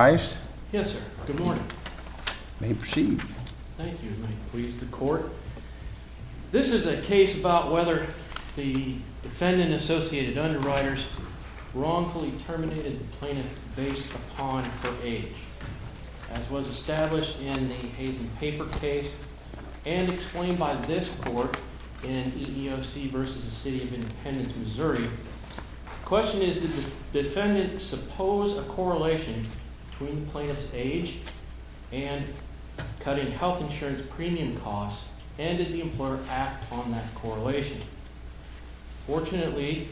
Yes, sir. Good morning. You may proceed. Thank you. This is a case about whether the defendant and Associated Underwriters wrongfully terminated the plaintiff based upon her age, as was established in the Hazen-Paper case and explained by this court in EEOC v. City of Independence, Missouri. The question is, did the defendant suppose a correlation between the plaintiff's age and cutting health insurance premium costs, and did the employer act on that correlation? Fortunately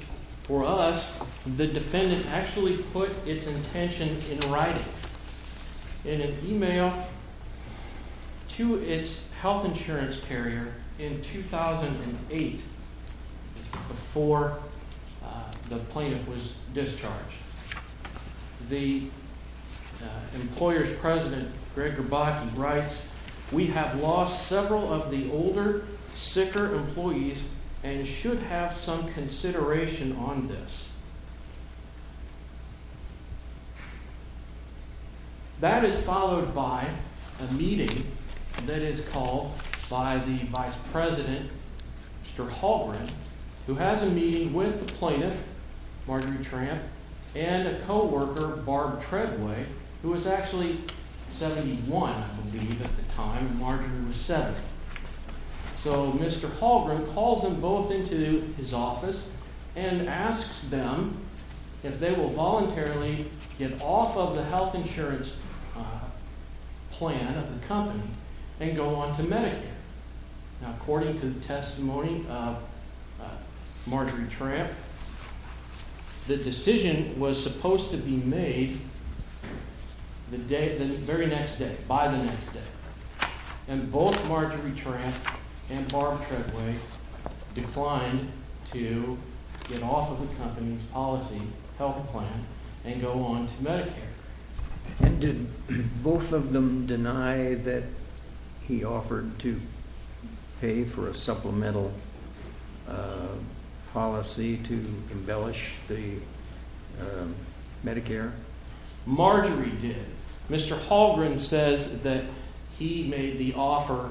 for us, the defendant actually put its intention in writing in an email to its health insurance carrier in 2008, before the plaintiff was discharged. The employer's president, Gregor Botkin, writes, We have lost several of the older, sicker employees and should have some consideration on this. That is followed by a meeting that is called by the vice president, Mr. Hallgren, who has a meeting with the plaintiff, Marjorie Tramp, and a co-worker, Barb Treadway, who was actually 71, I believe, at the time, and Marjorie was 70. So, Mr. Hallgren calls them both into his office and asks them if they will voluntarily get off of the health insurance plan of the company and go on to Medicare. Now, according to the testimony of Marjorie Tramp, the decision was supposed to be made the very next day, by the next day. And both Marjorie Tramp and Barb Treadway declined to get off of the company's policy health plan and go on to Medicare. And did both of them deny that he offered to pay for a supplemental policy to embellish the Medicare? Marjorie did. Mr. Hallgren says that he made the offer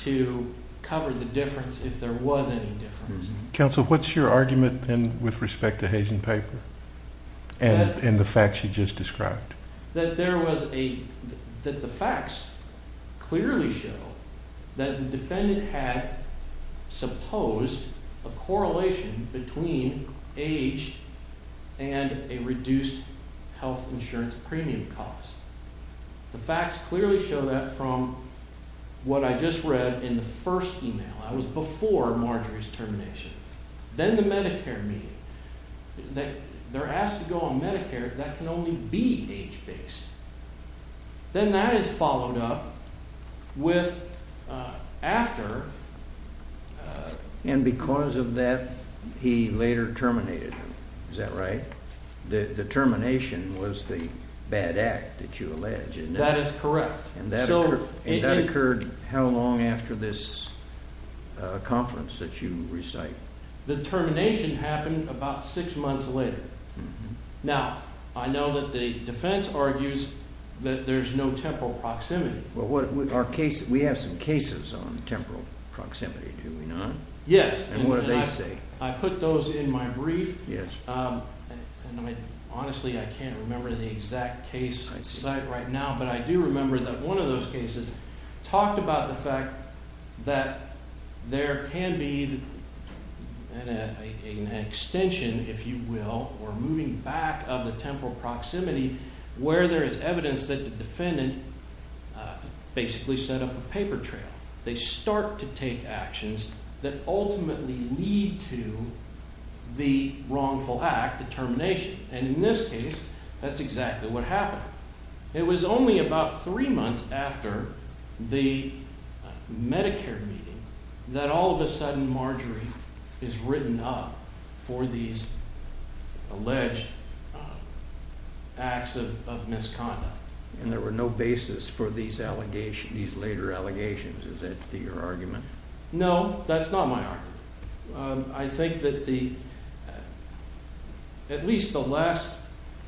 to cover the difference, if there was any difference. Counsel, what's your argument with respect to Hazen Piper and the facts you just described? That there was a, that the facts clearly show that the defendant had supposed a correlation between age and a reduced health insurance premium cost. The facts clearly show that from what I just read in the first email. I was before Marjorie's termination. Then the Medicare meeting. They're asked to go on Medicare, that can only be age-based. Then that is followed up with after. And because of that, he later terminated her. Is that right? The termination was the bad act that you allege. That is correct. And that occurred how long after this conference that you recite? The termination happened about six months later. Now, I know that the defense argues that there's no temporal proximity. Well, we have some cases on temporal proximity, do we not? Yes. And what do they say? I put those in my brief. Honestly, I can't remember the exact case site right now. But I do remember that one of those cases talked about the fact that there can be an extension, if you will, or moving back of the temporal proximity where there is evidence that the defendant basically set up a paper trail. They start to take actions that ultimately lead to the wrongful act, the termination. And in this case, that's exactly what happened. It was only about three months after the Medicare meeting that all of a sudden Marjorie is written up for these alleged acts of misconduct. And there were no basis for these later allegations. Is that your argument? No, that's not my argument. I think that at least the last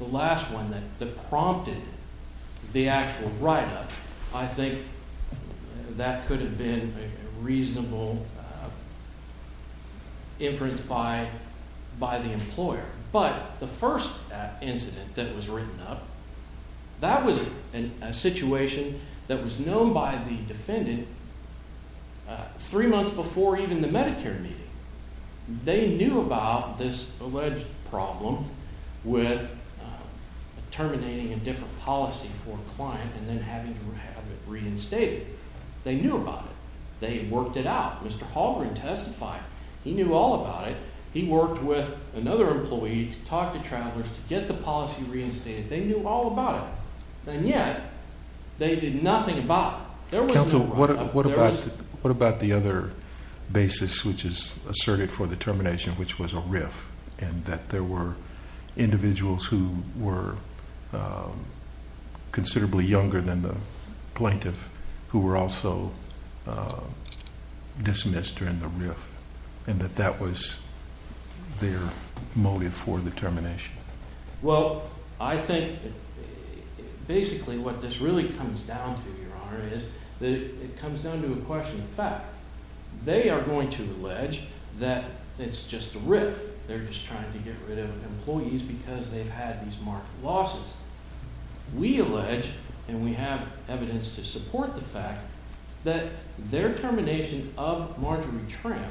one that prompted the actual write-up, I think that could have been a reasonable inference by the employer. But the first incident that was written up, that was a situation that was known by the defendant three months before even the Medicare meeting. They knew about this alleged problem with terminating a different policy for a client and then having to have it reinstated. They knew about it. They worked it out. Mr. Hallgren testified. He knew all about it. He worked with another employee to talk to travelers to get the policy reinstated. They knew all about it. And yet they did nothing about it. There was no write-up. their motive for the termination? Well, I think basically what this really comes down to, Your Honor, is that it comes down to a question of fact. They are going to allege that it's just a riff. They're just trying to get rid of employees because they've had these marked losses. We allege, and we have evidence to support the fact, that their termination of Marjorie Tramp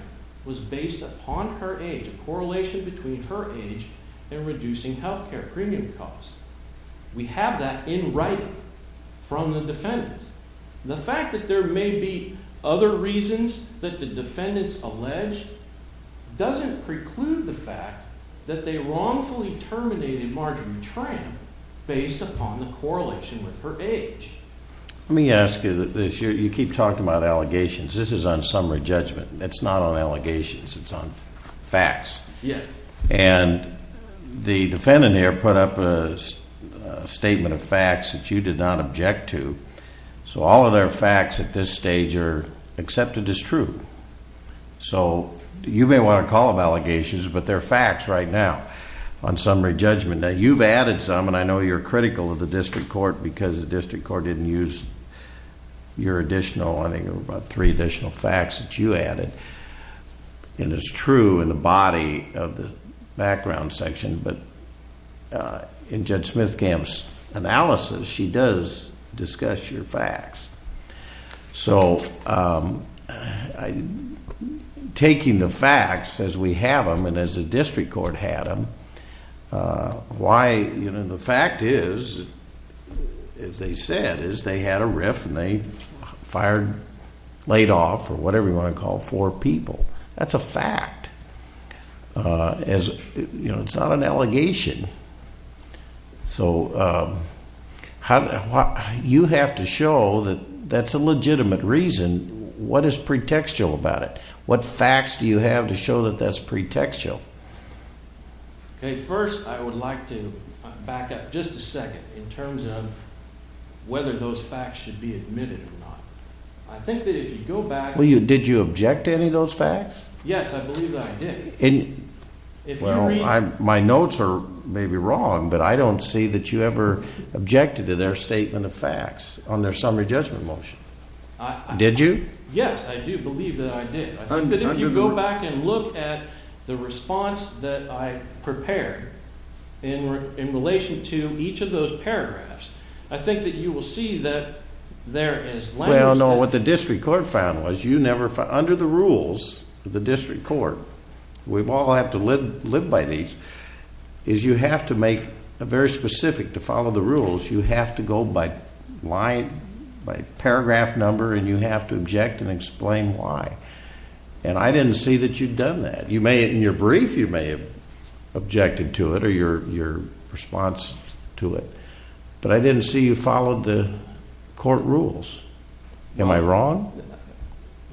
was based upon her age, a correlation between her age and reducing health care premium costs. We have that in writing from the defendants. The fact that there may be other reasons that the defendants allege doesn't preclude the fact that they wrongfully terminated Marjorie Tramp based upon the correlation with her age. Let me ask you this. You keep talking about allegations. This is on summary judgment. It's not on allegations. It's on facts. Yeah. And the defendant here put up a statement of facts that you did not object to. So all of their facts at this stage are accepted as true. So you may want to call them allegations, but they're facts right now on summary judgment. Now, you've added some, and I know you're critical of the district court because the district court didn't use your additional, I think there were about three additional facts that you added. And it's true in the body of the background section, but in Judge Smithgamp's analysis, she does discuss your facts. So taking the facts as we have them and as the district court had them, why, you know, the fact is, as they said, is they had a riff and they fired, laid off, or whatever you want to call it, four people. That's a fact. As, you know, it's not an allegation. So you have to show that that's a legitimate reason. What is pretextual about it? What facts do you have to show that that's pretextual? Okay. First, I would like to back up just a second in terms of whether those facts should be admitted or not. I think that if you go back. Did you object to any of those facts? Yes, I believe that I did. Well, my notes are maybe wrong, but I don't see that you ever objected to their statement of facts on their summary judgment motion. Did you? Yes, I do believe that I did. I think that if you go back and look at the response that I prepared in relation to each of those paragraphs, I think that you will see that there is language. Well, no, what the district court found was you never, under the rules of the district court, we all have to live by these, is you have to make it very specific to follow the rules. You have to go by line, by paragraph number, and you have to object and explain why. And I didn't see that you'd done that. In your brief, you may have objected to it or your response to it. But I didn't see you followed the court rules. Am I wrong?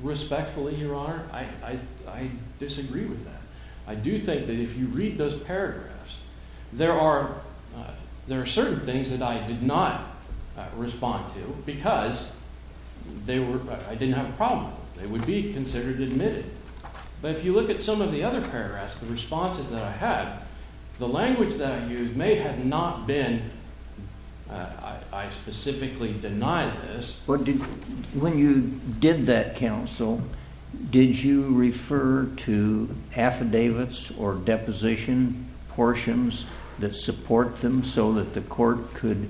Respectfully, Your Honor, I disagree with that. I do think that if you read those paragraphs, there are certain things that I did not respond to because I didn't have a problem with them. They would be considered admitted. But if you look at some of the other paragraphs, the responses that I had, the language that I used may have not been, I specifically denied this. When you did that counsel, did you refer to affidavits or deposition portions that support them so that the court could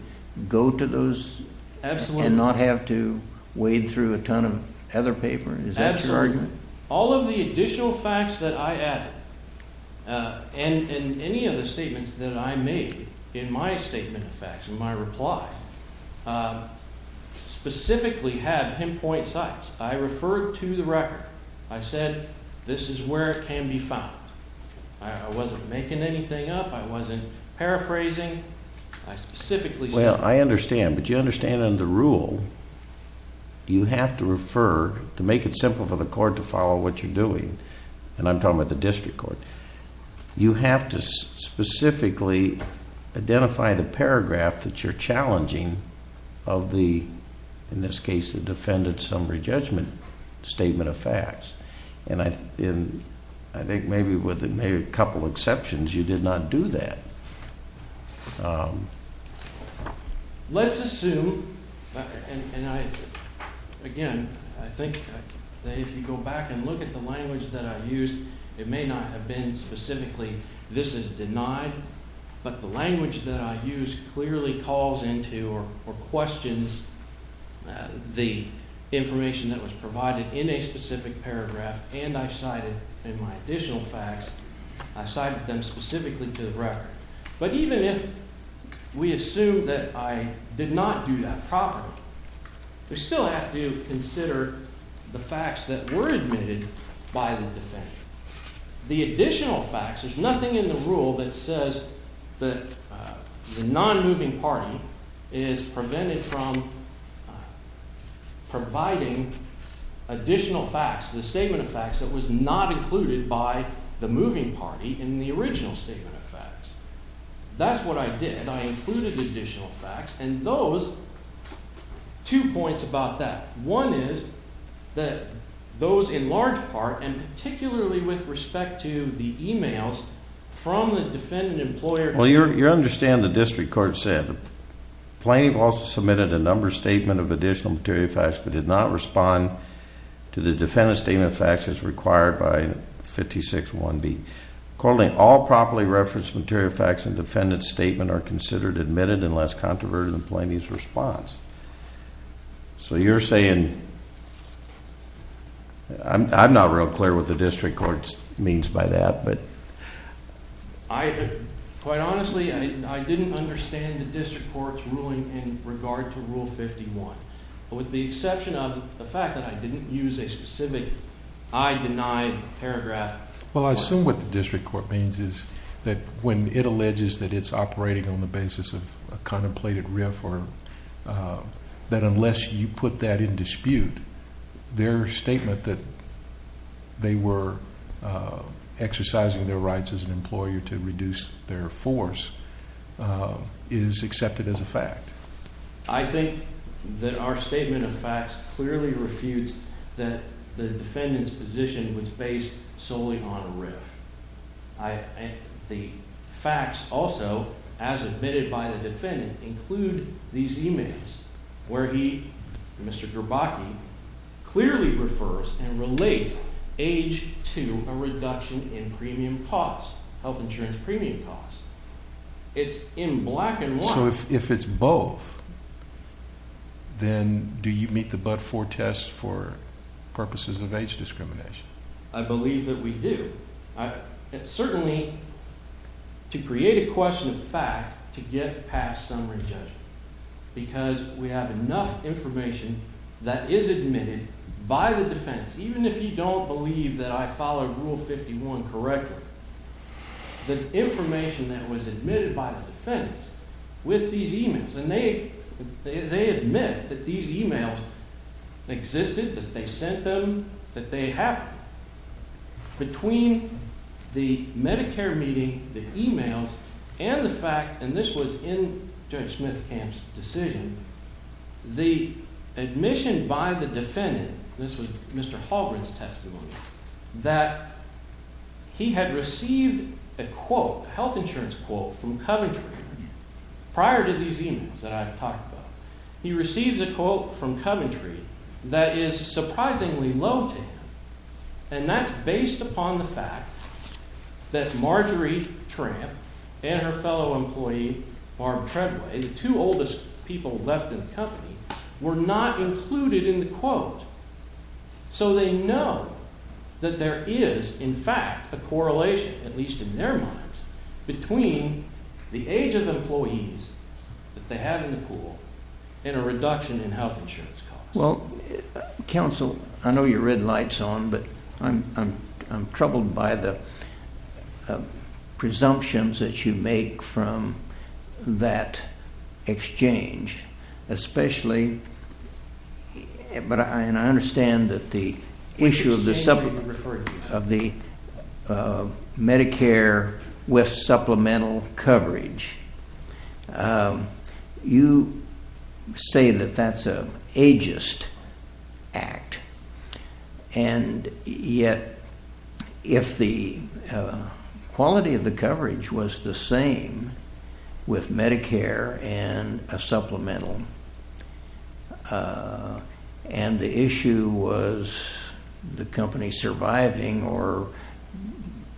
go to those and not have to wade through a ton of other paper? Is that your argument? All of the additional facts that I added and any of the statements that I made in my statement of facts, in my reply, specifically have pinpoint sites. I referred to the record. I said this is where it can be found. I wasn't making anything up. I wasn't paraphrasing. Well, I understand. But you understand under the rule, you have to refer, to make it simple for the court to follow what you're doing, and I'm talking about the district court. You have to specifically identify the paragraph that you're challenging of the, in this case, the defendant's summary judgment statement of facts. And I think maybe with a couple exceptions, you did not do that. Let's assume, and I, again, I think that if you go back and look at the language that I used, it may not have been specifically this is denied. But the language that I used clearly calls into or questions the information that was provided in a specific paragraph, and I cited in my additional facts, I cited them specifically to the record. But even if we assume that I did not do that properly, we still have to consider the facts that were admitted by the defendant. The additional facts, there's nothing in the rule that says that the non-moving party is prevented from providing additional facts, the statement of facts that was not included by the moving party in the original statement of facts. That's what I did. I included additional facts, and those, two points about that. One is that those in large part, and particularly with respect to the emails from the defendant employer. Well, you understand the district court said, Plaintiff also submitted a number statement of additional material facts but did not respond to the defendant's statement of facts as required by 56-1B. Accordingly, all properly referenced material facts in defendant's statement are considered admitted unless controverted in the plaintiff's response. So you're saying, I'm not real clear what the district court means by that, but. Quite honestly, I didn't understand the district court's ruling in regard to Rule 51. With the exception of the fact that I didn't use a specific, I denied paragraph. Well, I assume what the district court means is that when it alleges that it's operating on the basis of a contemplated riff or that unless you put that in dispute. Their statement that they were exercising their rights as an employer to reduce their force is accepted as a fact. I think that our statement of facts clearly refutes that the defendant's position was based solely on a riff. The facts also, as admitted by the defendant, include these emails where he, Mr. Gerbaki, clearly refers and relates age to a reduction in premium costs, health insurance premium costs. It's in black and white. So if it's both, then do you meet the but-for test for purposes of age discrimination? I believe that we do. Certainly, to create a question of fact, to get past summary judgment. Because we have enough information that is admitted by the defense, even if you don't believe that I followed Rule 51 correctly. The information that was admitted by the defense with these emails, and they admit that these emails existed, that they sent them, that they happened. Between the Medicare meeting, the emails, and the fact, and this was in Judge Smithkamp's decision. The admission by the defendant, this was Mr. Halgren's testimony, that he had received a quote, a health insurance quote, from Coventry prior to these emails that I've talked about. He receives a quote from Coventry that is surprisingly low to him. And that's based upon the fact that Marjorie Tramp and her fellow employee, Barb Treadway, the two oldest people left in the company, were not included in the quote. So they know that there is, in fact, a correlation, at least in their minds, between the age of the employees that they have in the pool and a reduction in health insurance costs. Well, counsel, I know you're red lights on, but I'm troubled by the presumptions that you make from that exchange. Especially, and I understand that the issue of the Medicare with supplemental coverage. You say that that's an ageist act, and yet if the quality of the coverage was the same with Medicare and a supplemental, and the issue was the company surviving or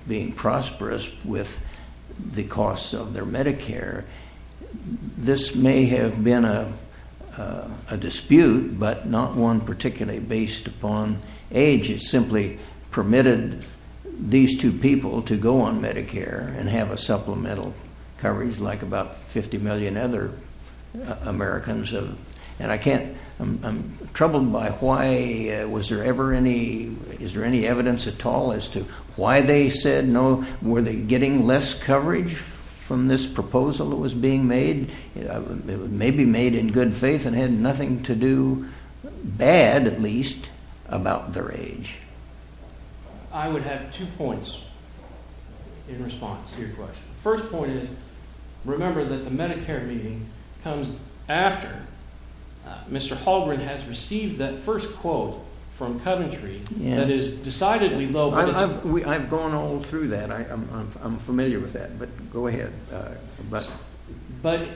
being prosperous with the costs of their Medicare, this may have been a dispute, but not one particularly based upon age. It simply permitted these two people to go on Medicare and have a supplemental coverage like about 50 million other Americans have. And I can't, I'm troubled by why, was there ever any, is there any evidence at all as to why they said no? Were they getting less coverage from this proposal that was being made? It was maybe made in good faith and had nothing to do, bad at least, about their age. I would have two points in response to your question. The first point is, remember that the Medicare meeting comes after Mr. Holgren has received that first quote from Coventry that is decidedly low, but it's... Well, I've gone all through that. I'm familiar with that, but go ahead. But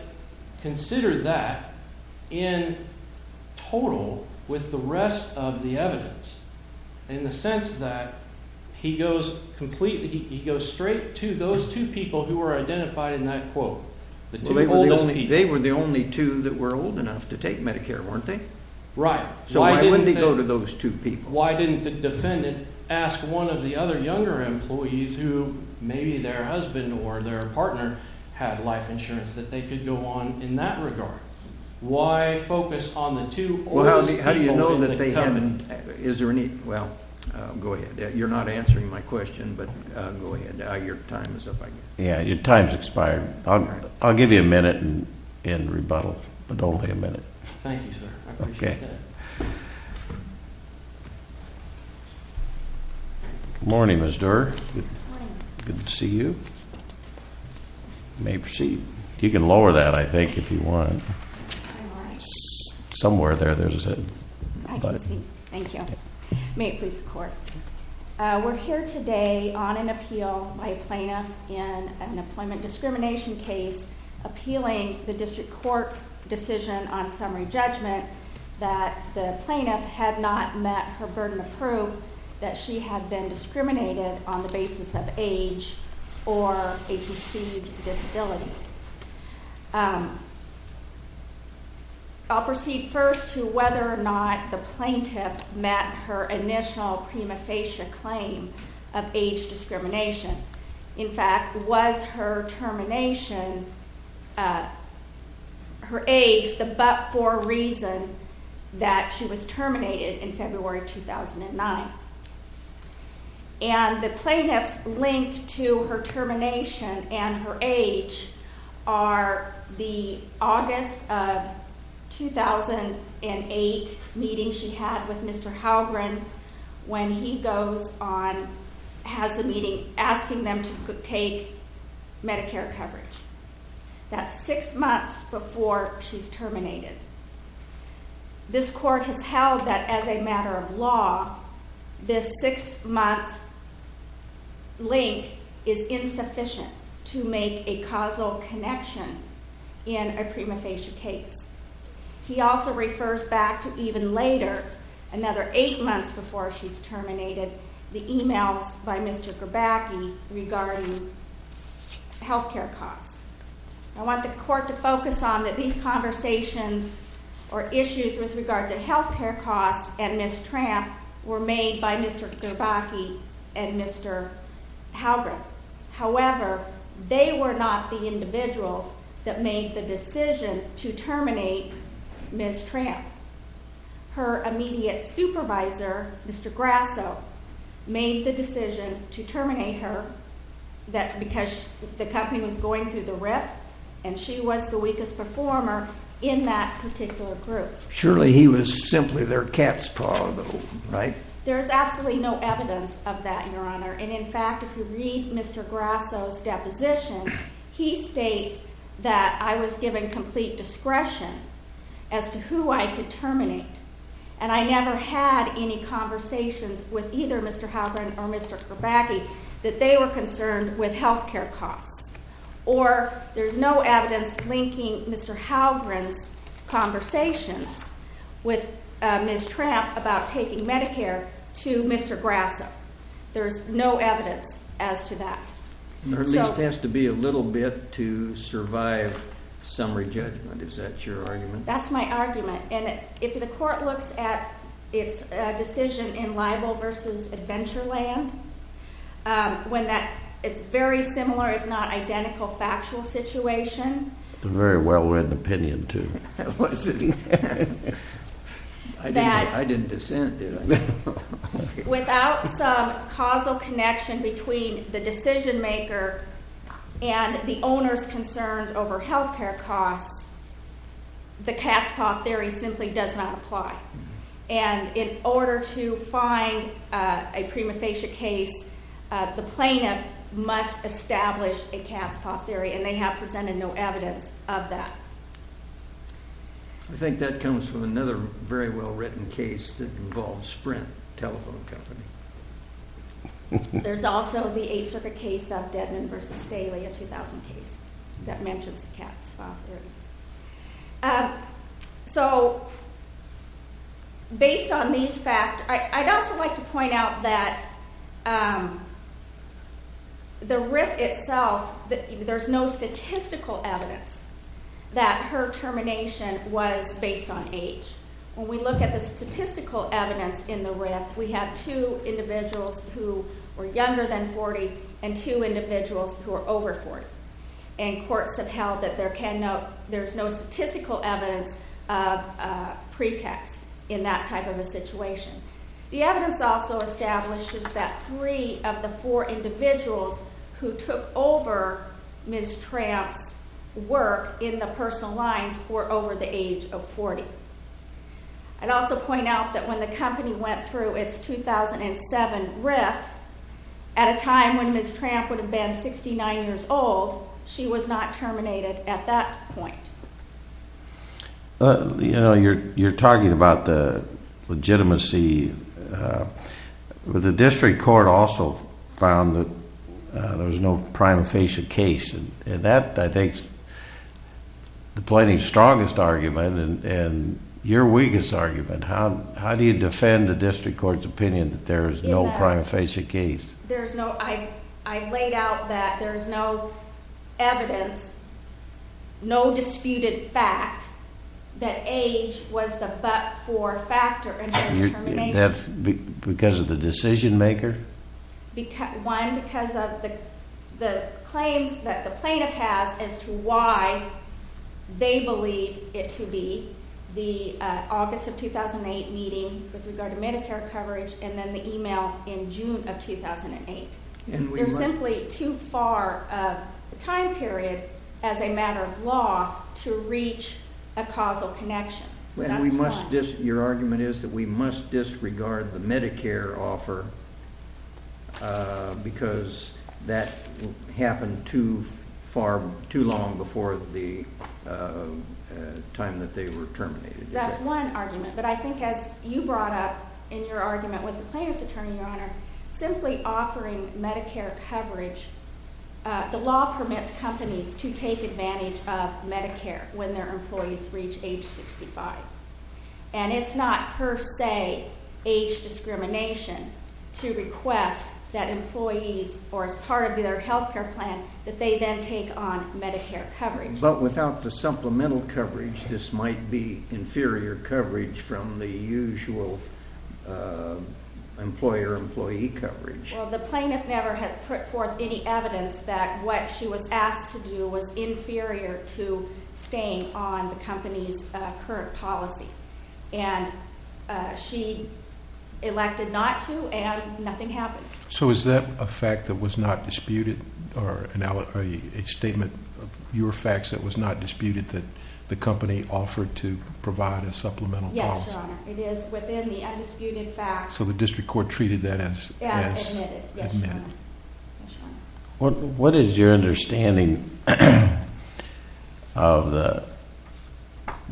consider that in total with the rest of the evidence in the sense that he goes completely, he goes straight to those two people who are identified in that quote, the two oldest people. They were the only two that were old enough to take Medicare, weren't they? Right. So why wouldn't he go to those two people? Why didn't the defendant ask one of the other younger employees who maybe their husband or their partner had life insurance that they could go on in that regard? Why focus on the two oldest people? Well, how do you know that they haven't, is there any, well, go ahead. You're not answering my question, but go ahead. Your time is up, I guess. Yeah, your time's expired. I'll give you a minute and rebuttal, but only a minute. Thank you, sir. I appreciate that. Good morning, Ms. Doerr. Good morning. Good to see you. You may proceed. You can lower that, I think, if you want. Somewhere there, there's a- I can see. Thank you. May it please the court. We're here today on an appeal by a plaintiff in an employment discrimination case appealing the district court's decision on summary judgment that the plaintiff had not met her burden of proof that she had been discriminated on the basis of age or a perceived disability. I'll proceed first to whether or not the plaintiff met her initial prima facie claim of age discrimination. In fact, was her termination, her age, the but-for reason that she was terminated in February 2009? And the plaintiff's link to her termination and her age are the August of 2008 meeting she had with Mr. Halgren when he goes on, has a meeting, asking them to take Medicare coverage. That's six months before she's terminated. This court has held that as a matter of law, this six-month link is insufficient to make a causal connection in a prima facie case. He also refers back to even later, another eight months before she's terminated, the emails by Mr. Grabacchi regarding health care costs. I want the court to focus on that these conversations or issues with regard to health care costs and Ms. Tramp were made by Mr. Grabacchi and Mr. Halgren. However, they were not the individuals that made the decision to terminate Ms. Tramp. Her immediate supervisor, Mr. Grasso, made the decision to terminate her because the company was going through the rift and she was the weakest performer in that particular group. Surely he was simply their cat's paw, though, right? There is absolutely no evidence of that, Your Honor. And in fact, if you read Mr. Grasso's deposition, he states that I was given complete discretion as to who I could terminate. And I never had any conversations with either Mr. Halgren or Mr. Grabacchi that they were concerned with health care costs. Or there's no evidence linking Mr. Halgren's conversations with Ms. Tramp about taking Medicare to Mr. Grasso. There's no evidence as to that. There at least has to be a little bit to survive summary judgment. Is that your argument? That's my argument. And if the court looks at its decision in libel versus adventure land, when it's very similar, it's not identical factual situation. It's a very well-written opinion, too. I didn't dissent, did I? Without some causal connection between the decision maker and the owner's concerns over health care costs, the cat's paw theory simply does not apply. And in order to find a prima facie case, the plaintiff must establish a cat's paw theory, and they have presented no evidence of that. I think that comes from another very well-written case that involves Sprint Telephone Company. There's also the Eighth Circuit case of Dedman v. Staley, a 2000 case, that mentions cat's paw theory. So, based on these facts, I'd also like to point out that the RIF itself, there's no statistical evidence that her termination was based on age. When we look at the statistical evidence in the RIF, we have two individuals who were younger than 40 and two individuals who were over 40. And courts have held that there's no statistical evidence of pretext in that type of a situation. The evidence also establishes that three of the four individuals who took over Ms. Tramp's work in the personal lines were over the age of 40. I'd also point out that when the company went through its 2007 RIF, at a time when Ms. Tramp would have been 69 years old, she was not terminated at that point. You know, you're talking about the legitimacy. The district court also found that there was no prima facie case. And that, I think, is the plaintiff's strongest argument and your weakest argument. How do you defend the district court's opinion that there is no prima facie case? I've laid out that there's no evidence, no disputed fact, that age was the but-for factor in her termination. That's because of the decision-maker? One, because of the claims that the plaintiff has as to why they believe it to be the August of 2008 meeting with regard to Medicare coverage and then the email in June of 2008. There's simply too far of a time period as a matter of law to reach a causal connection. Your argument is that we must disregard the Medicare offer because that happened too long before the time that they were terminated. That's one argument, but I think as you brought up in your argument with the plaintiff's attorney, Your Honor, simply offering Medicare coverage, the law permits companies to take advantage of Medicare when their employees reach age 65. And it's not per se age discrimination to request that employees, or as part of their health care plan, that they then take on Medicare coverage. But without the supplemental coverage, this might be inferior coverage from the usual employer-employee coverage. Well, the plaintiff never had put forth any evidence that what she was asked to do was inferior to staying on the company's current policy. And she elected not to, and nothing happened. So is that a fact that was not disputed, or a statement of your facts that was not disputed that the company offered to provide a supplemental policy? Yes, Your Honor. It is within the undisputed facts. So the district court treated that as admitted? Yes, Your Honor. What is your understanding of the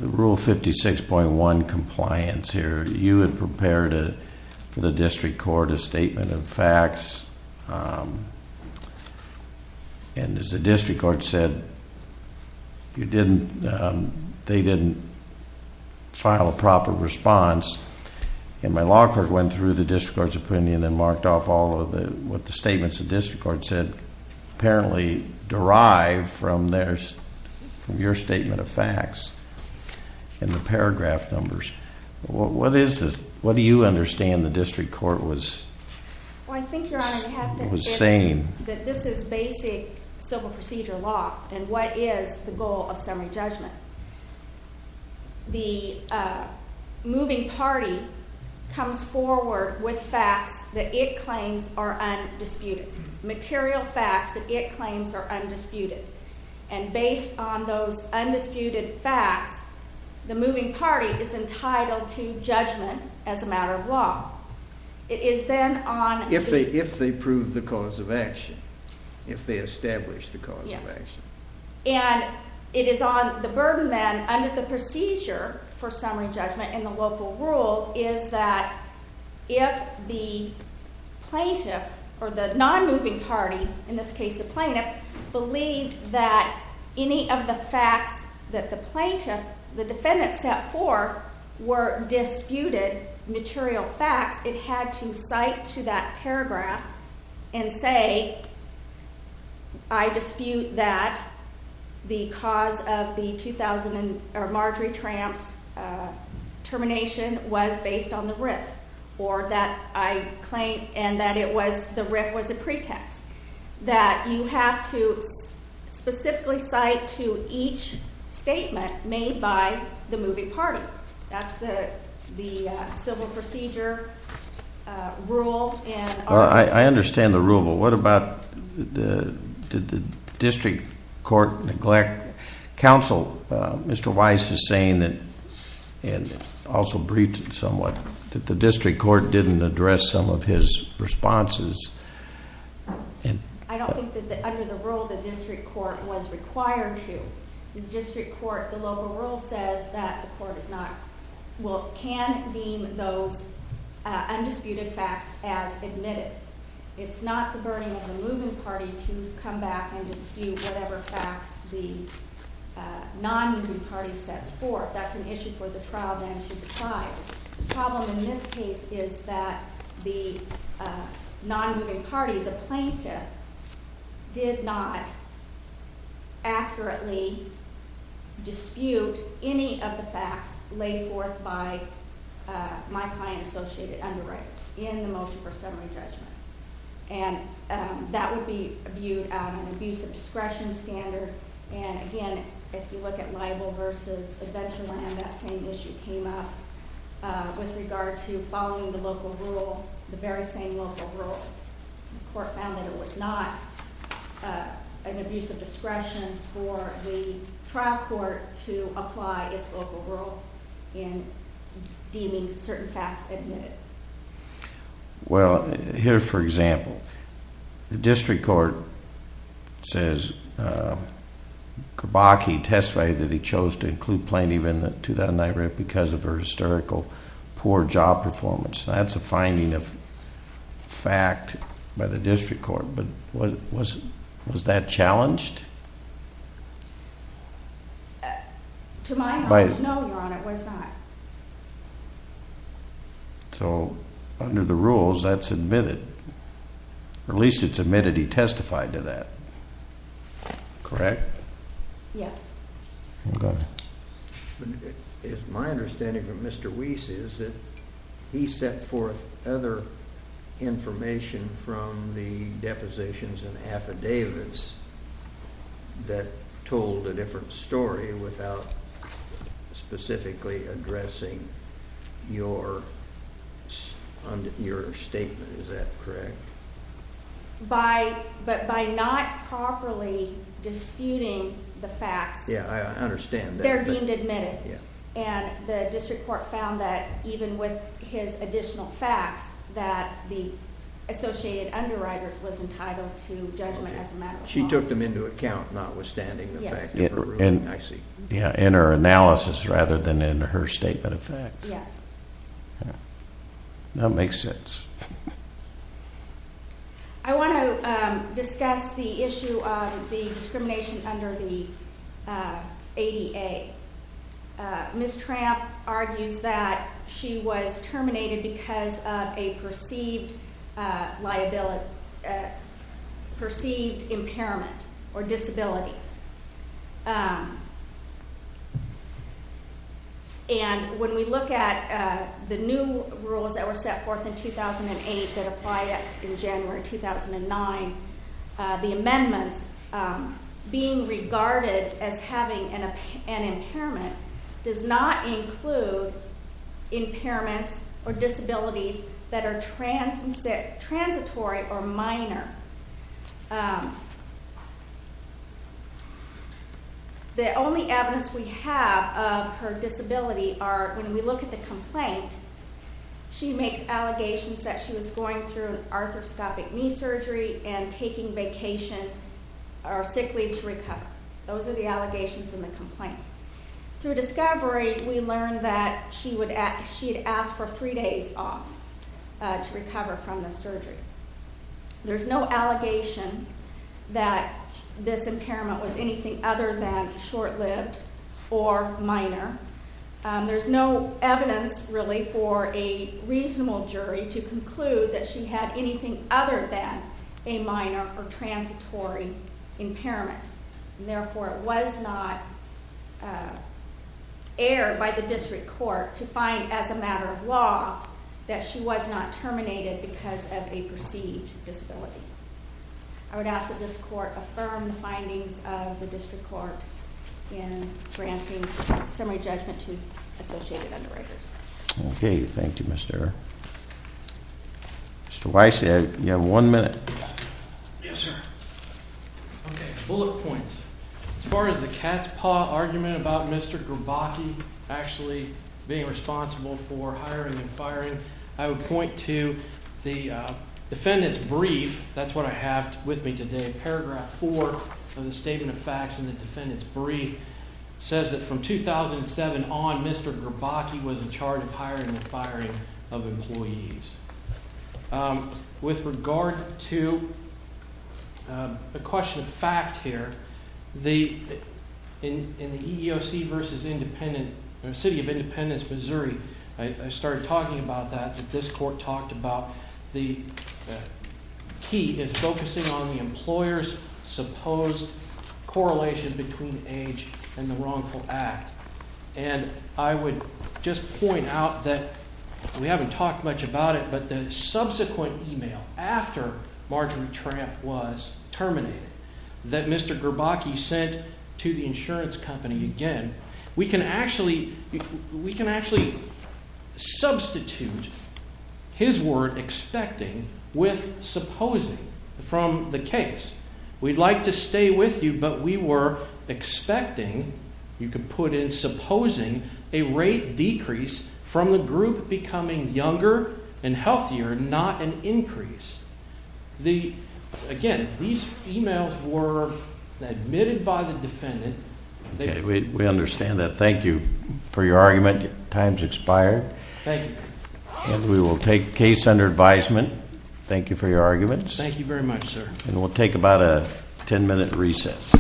Rule 56.1 compliance here? You had prepared for the district court a statement of facts, and as the district court said, they didn't file a proper response. And my law court went through the district court's opinion and marked off all of the statements the district court said apparently derived from your statement of facts in the paragraph numbers. What do you understand the district court was saying? Well, I think, Your Honor, we have to say that this is basic civil procedure law, and what is the goal of summary judgment? The moving party comes forward with facts that it claims are undisputed, material facts that it claims are undisputed. And based on those undisputed facts, the moving party is entitled to judgment as a matter of law. It is then on the... If they prove the cause of action, if they establish the cause of action. And it is on the burden then under the procedure for summary judgment in the local rule is that if the plaintiff or the non-moving party, in this case the plaintiff, believed that any of the facts that the plaintiff, the defendant, set forth were disputed material facts, it had to cite to that paragraph and say, I dispute that the cause of the 2000 Marjory Tramps termination was based on the RIF, or that I claim and that it was the RIF was a pretext. That you have to specifically cite to each statement made by the moving party. That's the civil procedure rule. I understand the rule, but what about the district court neglect? Counsel, Mr. Weiss is saying that, and also briefed somewhat, that the district court didn't address some of his responses. I don't think that under the rule the district court was required to. The district court, the local rule says that the court is not, well, can deem those undisputed facts as admitted. It's not the burden of the moving party to come back and dispute whatever facts the non-moving party sets forth. That's an issue for the trial then to try. The problem in this case is that the non-moving party, the plaintiff, did not accurately dispute any of the facts laid forth by my client associated underwriters in the motion for summary judgment. And that would be viewed as an abuse of discretion standard. And again, if you look at libel versus adventure land, that same issue came up with regard to following the local rule, the very same local rule. The court found that it was not an abuse of discretion for the trial court to apply its local rule in deeming certain facts admitted. Well, here, for example, the district court says Kerbaki testified that he chose to include Plaintiff in the 2009 rape because of her hysterical poor job performance. That's a finding of fact by the district court. But was that challenged? To my knowledge, no, Your Honor, it was not. So under the rules, that's admitted. At least it's admitted he testified to that. Correct? Yes. Okay. It's my understanding from Mr. Wiese is that he set forth other information from the depositions and affidavits that told a different story without specifically addressing your statement. Is that correct? By not properly disputing the facts. Yeah, I understand. They're deemed admitted. Yeah. And the district court found that even with his additional facts that the associated underwriters was entitled to judgment as a matter of law. She took them into account, notwithstanding the fact of her ruling. I see. Yeah, in her analysis rather than in her statement of facts. Yes. That makes sense. I want to discuss the issue of the discrimination under the ADA. Ms. Tramp argues that she was terminated because of a perceived liability, perceived impairment or disability. And when we look at the new rules that were set forth in 2008 that apply in January 2009, the amendments being regarded as having an impairment does not include impairments or disabilities that are transitory or minor. The only evidence we have of her disability are when we look at the complaint, she makes allegations that she was going through arthroscopic knee surgery and taking vacation or sick leave to recover. Those are the allegations in the complaint. Through discovery, we learned that she had asked for three days off to recover from the surgery. There's no allegation that this impairment was anything other than short-lived or minor. There's no evidence really for a reasonable jury to conclude that she had anything other than a minor or transitory impairment. Therefore, it was not aired by the district court to find as a matter of law that she was not terminated because of a perceived disability. I would ask that this court affirm the findings of the district court in granting summary judgment to associated underwriters. Okay, thank you, Mr. Error. Mr. Weiss, you have one minute. Yes, sir. Okay, bullet points. As far as the cat's paw argument about Mr. Gerbaki actually being responsible for hiring and firing, I would point to the defendant's brief. That's what I have with me today. Paragraph 4 of the statement of facts in the defendant's brief says that from 2007 on, Mr. Gerbaki was in charge of hiring and firing of employees. With regard to the question of fact here, in the EEOC v. City of Independence, Missouri, I started talking about that, that this court talked about. The key is focusing on the employer's supposed correlation between age and the wrongful act. And I would just point out that we haven't talked much about it, but the subsequent email after Marjorie Tramp was terminated that Mr. Gerbaki sent to the insurance company again, we can actually substitute his word expecting with supposing from the case. We'd like to stay with you, but we were expecting, you could put in supposing, a rate decrease from the group becoming younger and healthier, not an increase. Again, these emails were admitted by the defendant. Okay, we understand that. Thank you for your argument. Your time has expired. Thank you. And we will take case under advisement. Thank you for your arguments. Thank you very much, sir. And we'll take about a ten minute recess.